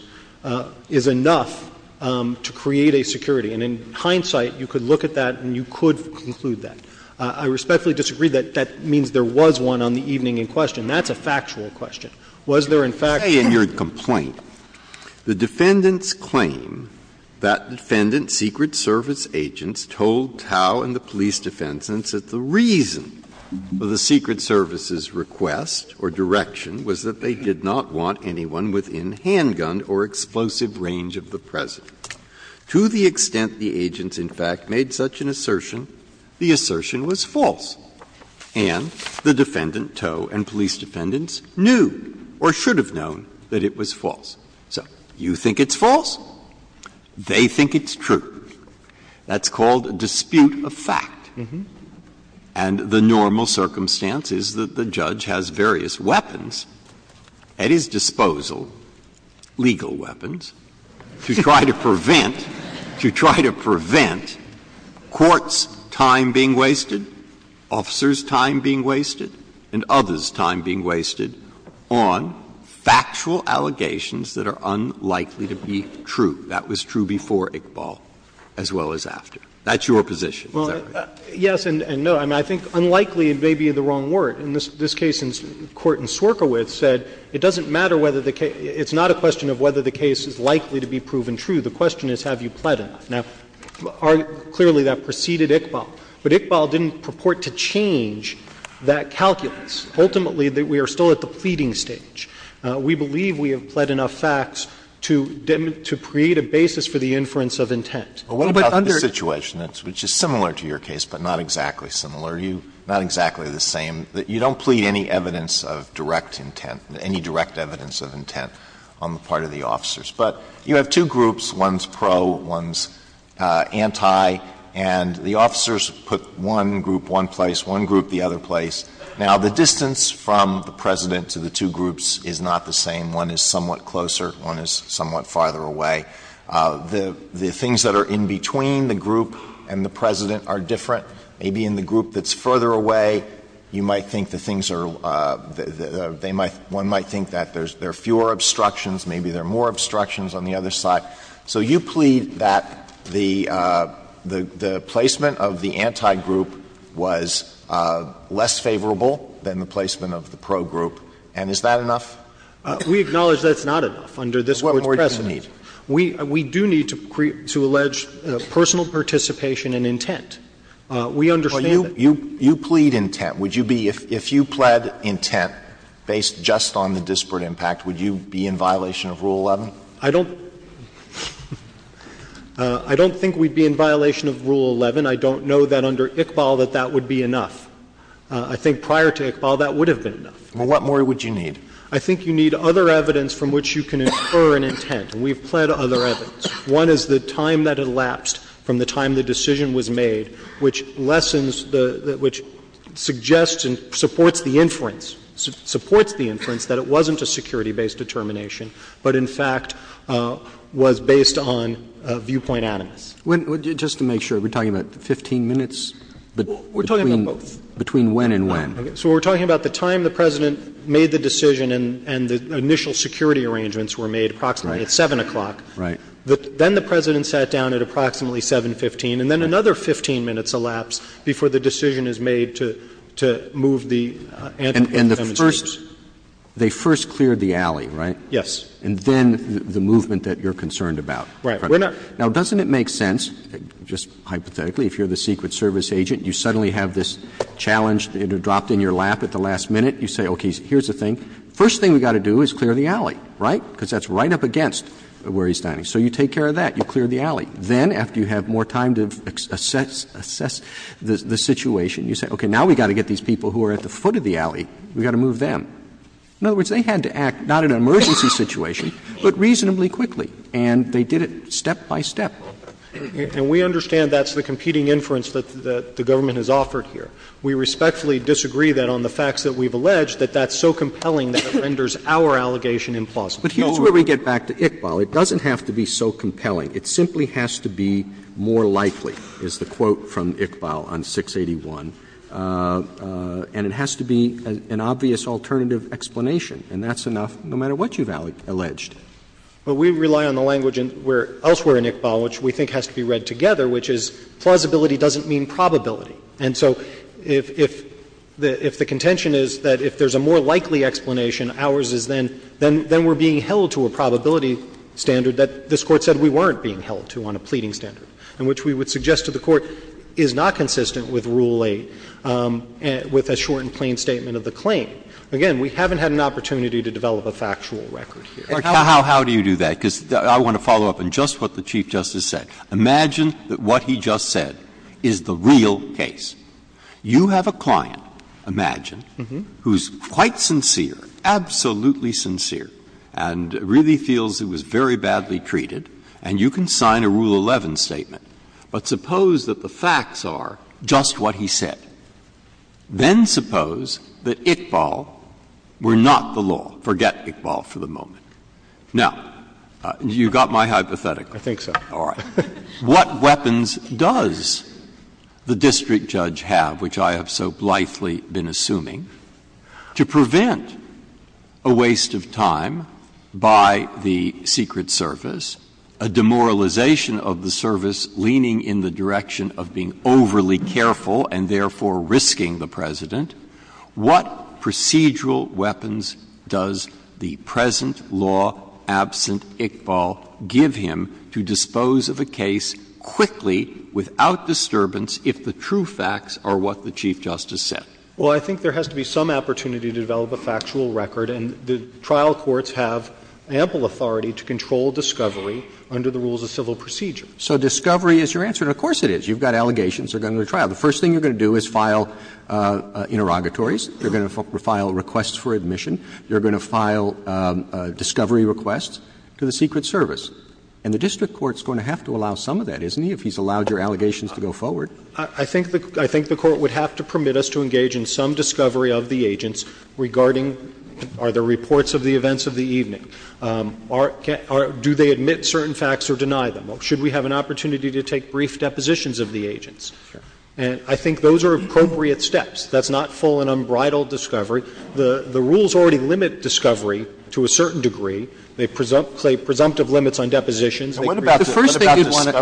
is enough to create a security. And in hindsight, you could look at that and you could conclude that. I respectfully disagree that that means there was one on the evening in question. That's a factual question. Was there in fact one? Breyer. In your complaint, the defendants claim that defendant secret service agents told Tao and the police defense that the reason for the secret service's request or direction was that they did not want anyone within handgun or explosive range of the President. To the extent the agents, in fact, made such an assertion, the assertion was false, and the defendant, Tao, and police defendants knew or should have known that it was false. So you think it's false. They think it's true. That's called a dispute of fact. And the normal circumstance is that the judge has various weapons at his disposal, legal weapons, to try to prevent, to try to prevent courts' time being wasted, officers' time being wasted, and others' time being wasted on factual allegations that are unlikely to be true. That was true before Iqbal as well as after. That's your position. Is that right? Yes and no. I mean, I think unlikely may be the wrong word. In this case, the court in Sorkowitz said it doesn't matter whether the case – it's not a question of whether the case is likely to be proven true. The question is have you pled enough. Now, clearly that preceded Iqbal. But Iqbal didn't purport to change that calculus. Ultimately, we are still at the pleading stage. We believe we have pled enough facts to create a basis for the inference of intent. But what about the situation, which is similar to your case, but not exactly similar, not exactly the same, that you don't plead any evidence of direct intent, any direct evidence of intent on the part of the officers. But you have two groups. One is pro, one is anti. And the officers put one group one place, one group the other place. Now, the distance from the President to the two groups is not the same. One is somewhat closer. One is somewhat farther away. The things that are in between the group and the President are different. Maybe in the group that's further away, you might think the things are – one might think that there are fewer obstructions, maybe there are more obstructions on the other side. So you plead that the placement of the anti group was less favorable than the placement of the pro group. And is that enough? We acknowledge that's not enough under this Court's precedent. What more would you need? We do need to allege personal participation and intent. We understand that. You plead intent. Would you be – if you pled intent based just on the disparate impact, would you be in violation of Rule 11? I don't think we'd be in violation of Rule 11. I don't know that under Iqbal that that would be enough. I think prior to Iqbal that would have been enough. Well, what more would you need? I think you need other evidence from which you can infer an intent, and we've pled other evidence. One is the time that elapsed from the time the decision was made, which lessens the – which suggests and supports the inference – supports the inference that it wasn't a security-based determination, but in fact was based on viewpoint animus. Just to make sure, are we talking about 15 minutes? We're talking about both. Between when and when. So we're talking about the time the President made the decision and the initial security arrangements were made, approximately at 7 o'clock. Right. Then the President sat down at approximately 7.15, and then another 15 minutes elapsed before the decision is made to move the antithemonstrators. And the first – they first cleared the alley, right? Yes. And then the movement that you're concerned about. Right. Now, doesn't it make sense, just hypothetically, if you're the Secret Service agent, you suddenly have this challenge dropped in your lap at the last minute, you say, okay, here's the thing. First thing we've got to do is clear the alley, right? Because that's right up against where he's standing. So you take care of that. You clear the alley. Then, after you have more time to assess the situation, you say, okay, now we've got to get these people who are at the foot of the alley. We've got to move them. In other words, they had to act not in an emergency situation, but reasonably quickly, and they did it step by step. And we understand that's the competing inference that the government has offered here. We respectfully disagree that on the facts that we've alleged, that that's so compelling that it renders our allegation implausible. But here's where we get back to Iqbal. It doesn't have to be so compelling. It simply has to be more likely, is the quote from Iqbal on 681. And it has to be an obvious alternative explanation. And that's enough, no matter what you've alleged. But we rely on the language elsewhere in Iqbal, which we think has to be read together, which is plausibility doesn't mean probability. And so if the contention is that if there's a more likely explanation, ours is then we're being held to a probability standard that this Court said we weren't being held to on a pleading standard, and which we would suggest to the Court is not consistent with Rule 8, with a short and plain statement of the claim. Again, we haven't had an opportunity to develop a factual record here. Breyer. How do you do that? Because I want to follow up on just what the Chief Justice said. Imagine that what he just said is the real case. You have a client, imagine, who's quite sincere, absolutely sincere, and really feels it was very badly treated, and you can sign a Rule 11 statement. But suppose that the facts are just what he said. Then suppose that Iqbal were not the law. Forget Iqbal for the moment. Now, you've got my hypothetical. I think so. All right. What weapons does the district judge have, which I have so blithely been assuming, to prevent a waste of time by the Secret Service, a demoralization of the service leaning in the direction of being overly careful and therefore risking the President? What procedural weapons does the present law absent Iqbal give him to dispose of a case quickly, without disturbance, if the true facts are what the Chief Justice said? Well, I think there has to be some opportunity to develop a factual record. And the trial courts have ample authority to control discovery under the rules of civil procedure. So discovery is your answer, and of course it is. You've got allegations that are going to the trial. The first thing you're going to do is file interrogatories. You're going to file requests for admission. You're going to file discovery requests to the Secret Service. And the district court's going to have to allow some of that, isn't he, if he's allowed your allegations to go forward? I think the Court would have to permit us to engage in some discovery of the agents regarding are there reports of the events of the evening. Do they admit certain facts or deny them? Should we have an opportunity to take brief depositions of the agents? And I think those are appropriate steps. That's not full and unbridled discovery. The rules already limit discovery to a certain degree. They present a presumptive limits on depositions. And what about the stuff of the study?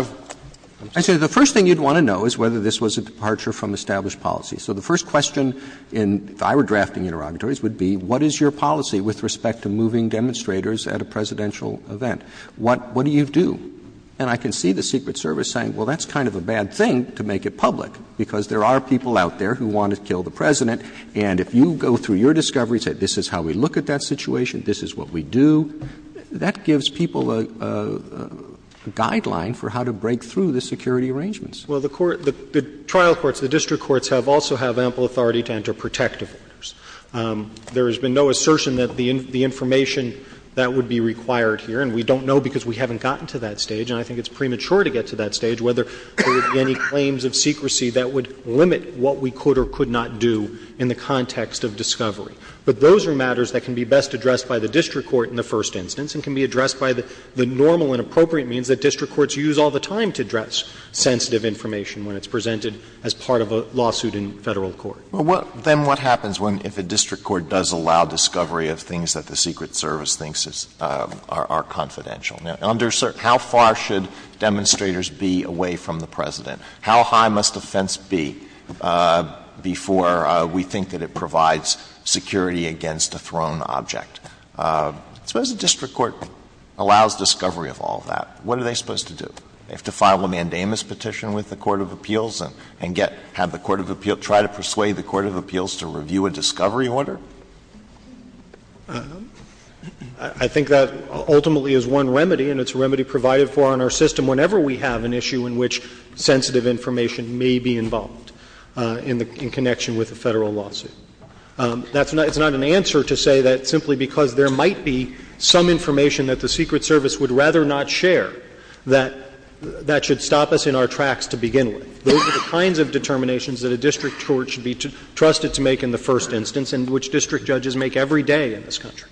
Actually, the first thing you would want to know is whether this was a departure from established policy. So the first question in if I were drafting interrogatories would be what is your policy with respect to moving demonstrators at a presidential event? What do you do? And I can see the Secret Service saying, well, that's kind of a bad thing to make it public, because there are people out there who want to kill the President. And if you go through your discovery and say this is how we look at that situation, this is what we do, that gives people a guideline for how to break through the security arrangements. Well, the trial courts, the district courts, also have ample authority to enter protective orders. There has been no assertion that the information that would be required here, and We don't know because we haven't gotten to that stage, and I think it's premature to get to that stage, whether there would be any claims of secrecy that would limit what we could or could not do in the context of discovery. But those are matters that can be best addressed by the district court in the first instance and can be addressed by the normal and appropriate means that district courts use all the time to address sensitive information when it's presented as part of a lawsuit in Federal court. Alitoso, then what happens if a district court does allow discovery of things that the Secret Service thinks are confidential? How far should demonstrators be away from the President? How high must a fence be before we think that it provides security against a thrown object? Suppose a district court allows discovery of all that. What are they supposed to do? They have to file a mandamus petition with the court of appeals and get the court of appeals, try to persuade the court of appeals to review a discovery order? I think that ultimately is one remedy and it's a remedy provided for on our system whenever we have an issue in which sensitive information may be involved in connection with a Federal lawsuit. It's not an answer to say that simply because there might be some information that the Secret Service would rather not share that that should stop us in our tracks to begin with. Those are the kinds of determinations that a district court should be trusted to make in the first instance and which district judges make every day in this country.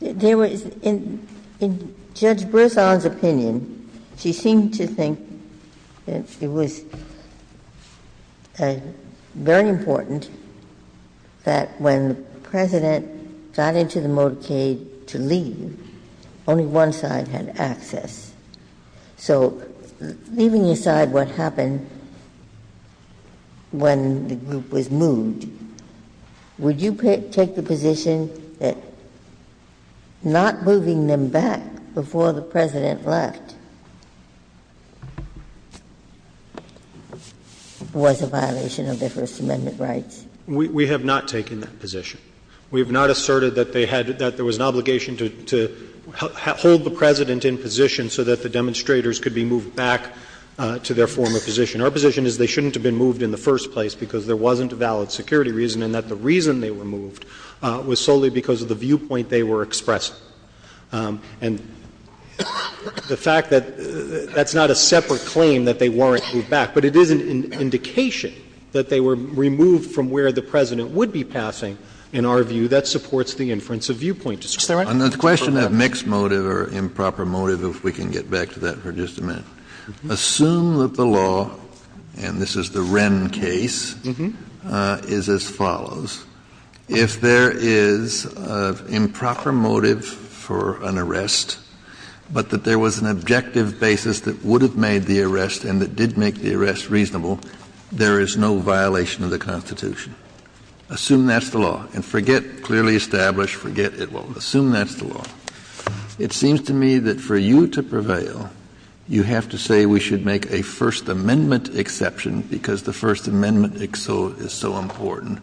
Ginsburg. In Judge Brisson's opinion, she seemed to think it was very important that when the President got into the motorcade to leave, only one side had access. So leaving aside what happened when the group was moved, would you take the position that not moving them back before the President left was a violation of their First Amendment rights? We have not taken that position. We have not asserted that they had, that there was an obligation to hold the President in position so that the demonstrators could be moved back to their former position. Our position is they shouldn't have been moved in the first place because there wasn't a valid security reason and that the reason they were moved was solely because of the viewpoint they were expressing. And the fact that that's not a separate claim that they weren't moved back, but it is an indication that they were removed from where the President would be passing, in our view, that supports the inference of viewpoint. Is that right? And the question of mixed motive or improper motive, if we can get back to that for just a minute. Assume that the law, and this is the Wren case, is as follows. If there is improper motive for an arrest, but that there was an objective basis that would have made the arrest and that did make the arrest reasonable, there is no violation of the Constitution. Assume that's the law. And forget clearly established, forget it all. Assume that's the law. It seems to me that for you to prevail, you have to say we should make a First Amendment exception because the First Amendment is so important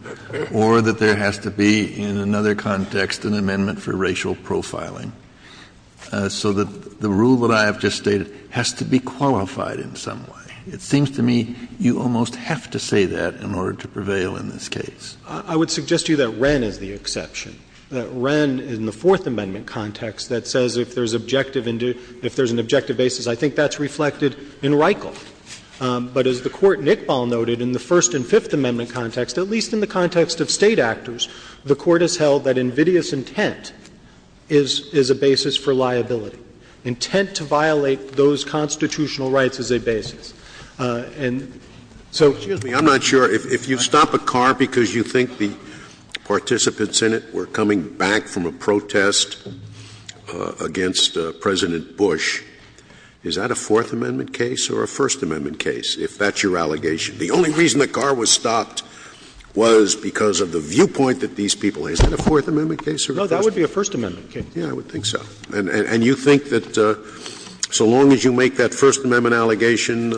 or that there has to be in another context an amendment for racial profiling. So the rule that I have just stated has to be qualified in some way. It seems to me you almost have to say that in order to prevail in this case. I would suggest to you that Wren is the exception, that Wren in the Fourth Amendment context that says if there is an objective basis, I think that's reflected in Reichle. But as the Court in Iqbal noted, in the First and Fifth Amendment context, at least in the context of State actors, the Court has held that invidious intent is a basis for liability, intent to violate those constitutional rights as a basis. And so, excuse me, I'm not sure, if you stop a car because you think the participants in it were coming back from a protest against President Bush, is that a Fourth Amendment case or a First Amendment case, if that's your allegation? The only reason the car was stopped was because of the viewpoint that these people had. Is that a Fourth Amendment case or a First Amendment case? No, that would be a First Amendment case. Yes, I would think so. And you think that so long as you make that First Amendment allegation,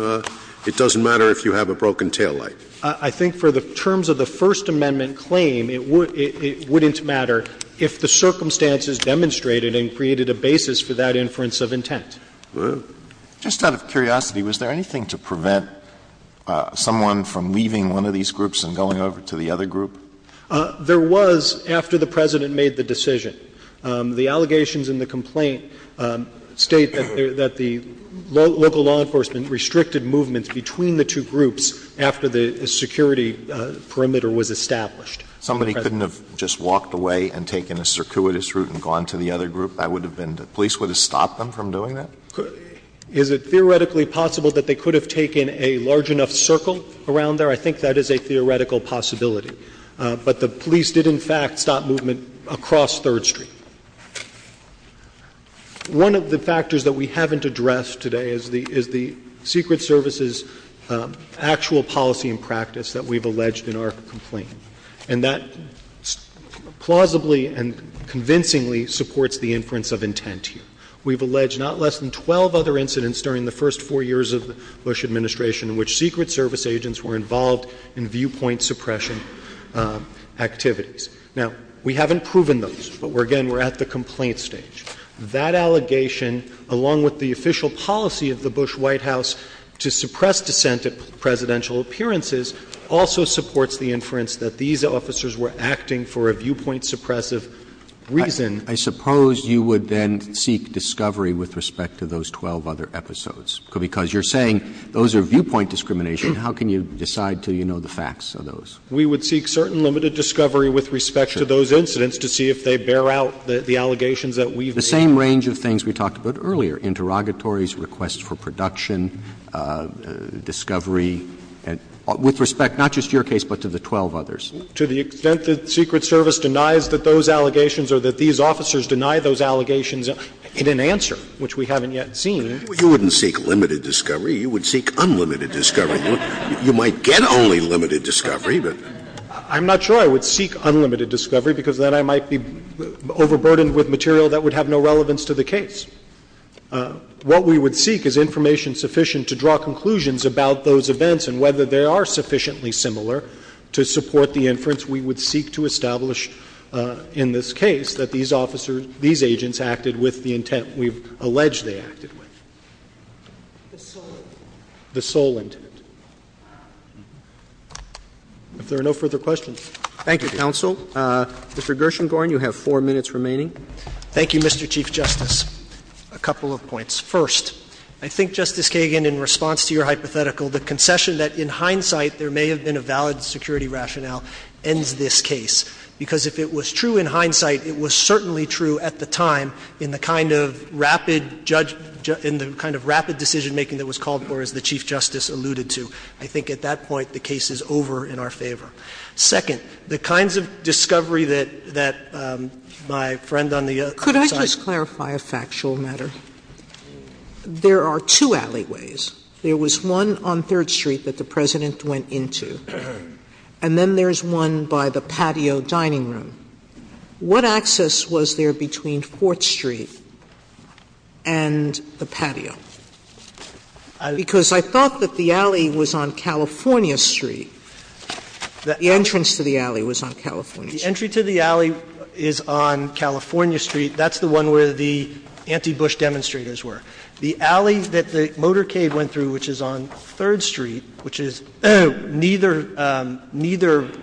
it doesn't matter if you have a broken taillight? I think for the terms of the First Amendment claim, it wouldn't matter if the circumstances demonstrated and created a basis for that inference of intent. Well, just out of curiosity, was there anything to prevent someone from leaving one of these groups and going over to the other group? There was after the President made the decision. The allegations in the complaint state that the local law enforcement restricted movements between the two groups after the security perimeter was established. Somebody couldn't have just walked away and taken a circuitous route and gone to the other group? That would have been the police would have stopped them from doing that? Is it theoretically possible that they could have taken a large enough circle around there? I think that is a theoretical possibility. But the police did in fact stop movement across Third Street. One of the factors that we haven't addressed today is the Secret Service's actual policy and practice that we have alleged in our complaint. And that plausibly and convincingly supports the inference of intent here. We have alleged not less than 12 other incidents during the first four years of the Bush Administration in which Secret Service agents were involved in viewpoint suppression activities. Now, we haven't proven those. But again, we're at the complaint stage. That allegation, along with the official policy of the Bush White House to suppress dissent at presidential appearances, also supports the inference that these officers were acting for a viewpoint suppressive reason. I suppose you would then seek discovery with respect to those 12 other episodes. Because you're saying those are viewpoint discrimination. How can you decide until you know the facts of those? We would seek certain limited discovery with respect to those incidents to see if they bear out the allegations that we've made. The same range of things we talked about earlier. Interrogatories, requests for production, discovery, with respect not just to your case but to the 12 others. To the extent that Secret Service denies that those allegations or that these officers deny those allegations in an answer, which we haven't yet seen. You wouldn't seek limited discovery. You would seek unlimited discovery. You might get only limited discovery. I'm not sure I would seek unlimited discovery because then I might be overburdened with material that would have no relevance to the case. What we would seek is information sufficient to draw conclusions about those events and whether they are sufficiently similar to support the inference we would seek to establish in this case that these officers, these agents acted with the intent we've alleged they acted with. The sole intent. The sole intent. If there are no further questions. Thank you, Counsel. Mr. Gershengorn, you have four minutes remaining. Thank you, Mr. Chief Justice. A couple of points. First, I think, Justice Kagan, in response to your hypothetical, the concession that in hindsight there may have been a valid security rationale ends this case. Because if it was true in hindsight, it was certainly true at the time in the kind of rapid decision-making that was called for, as the Chief Justice alluded to. I think at that point the case is over in our favor. Second, the kinds of discovery that my friend on the other side. Could I just clarify a factual matter? There are two alleyways. There was one on Third Street that the President went into, and then there is one by the patio dining room. What access was there between Fourth Street and the patio? Because I thought that the alley was on California Street. The entrance to the alley was on California Street. The entry to the alley is on California Street. That's the one where the anti-Bush demonstrators were. The alley that the motorcade went through, which is on Third Street, which is neither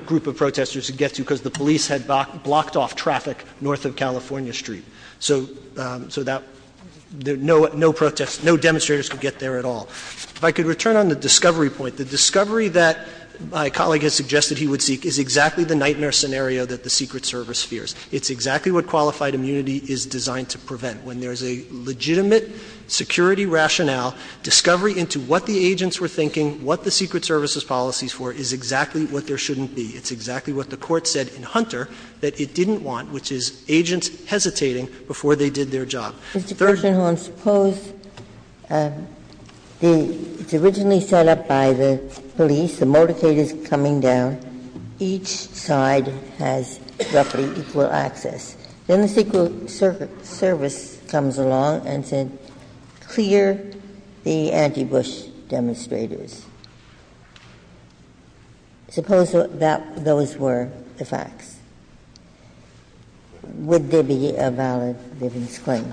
group of protesters could get to because the police had blocked off traffic north of California Street. So no demonstrators could get there at all. If I could return on the discovery point. The discovery that my colleague has suggested he would seek is exactly the nightmare scenario that the Secret Service fears. It's exactly what qualified immunity is designed to prevent. When there is a legitimate security rationale, discovery into what the agents were thinking, what the Secret Service's policies for is exactly what there shouldn't be. It's exactly what the Court said in Hunter that it didn't want, which is agents hesitating before they did their job. Third. Ginsburg. Ginsburg. Hone, suppose it's originally set up by the police. The motorcade is coming down. Each side has roughly equal access. Then the Secret Service comes along and said, clear the anti-Bush demonstrators. Suppose that those were the facts. Would there be a valid livings claim?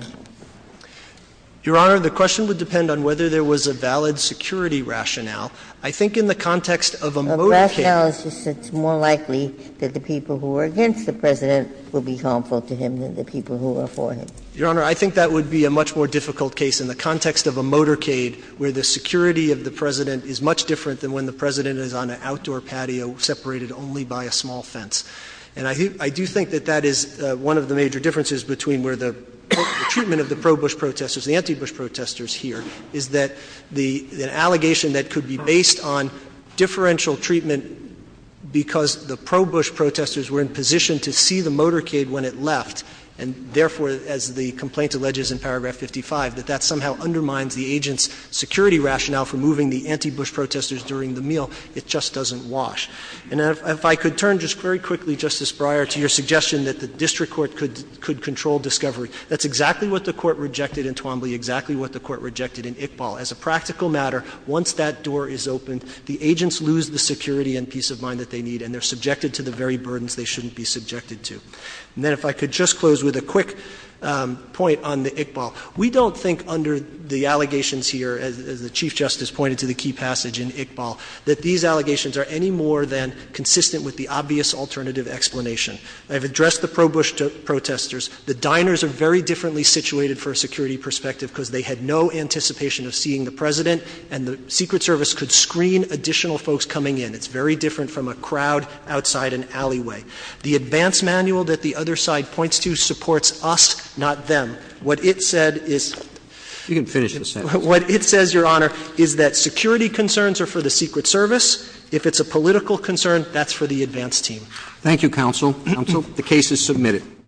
Your Honor, the question would depend on whether there was a valid security rationale. I think in the context of a motorcade. It's more likely that the people who are against the President will be harmful to him than the people who are for him. Your Honor, I think that would be a much more difficult case in the context of a motorcade where the security of the President is much different than when the President is on an outdoor patio separated only by a small fence. And I do think that that is one of the major differences between where the treatment of the pro-Bush protesters, the anti-Bush protesters here, is that the allegation that could be based on differential treatment because the pro-Bush protesters were in position to see the motorcade when it left. And therefore, as the complaint alleges in paragraph 55, that that somehow undermines the agent's security rationale for moving the anti-Bush protesters during the meal. It just doesn't wash. And if I could turn just very quickly, Justice Breyer, to your suggestion that the district court could control discovery. That's exactly what the Court rejected in Twombly, exactly what the Court rejected in Iqbal. As a practical matter, once that door is opened, the agents lose the security and peace of mind that they need, and they're subjected to the very burdens they shouldn't be subjected to. And then if I could just close with a quick point on the Iqbal. We don't think under the allegations here, as the Chief Justice pointed to the key passage in Iqbal, that these allegations are any more than consistent with the obvious alternative explanation. I've addressed the pro-Bush protesters. The diners are very differently situated for a security perspective because they had no anticipation of seeing the President, and the Secret Service could screen additional folks coming in. It's very different from a crowd outside an alleyway. The advance manual that the other side points to supports us, not them. What it said is — You can finish the sentence. What it says, Your Honor, is that security concerns are for the Secret Service. If it's a political concern, that's for the advance team. Thank you, counsel. Counsel. The case is submitted.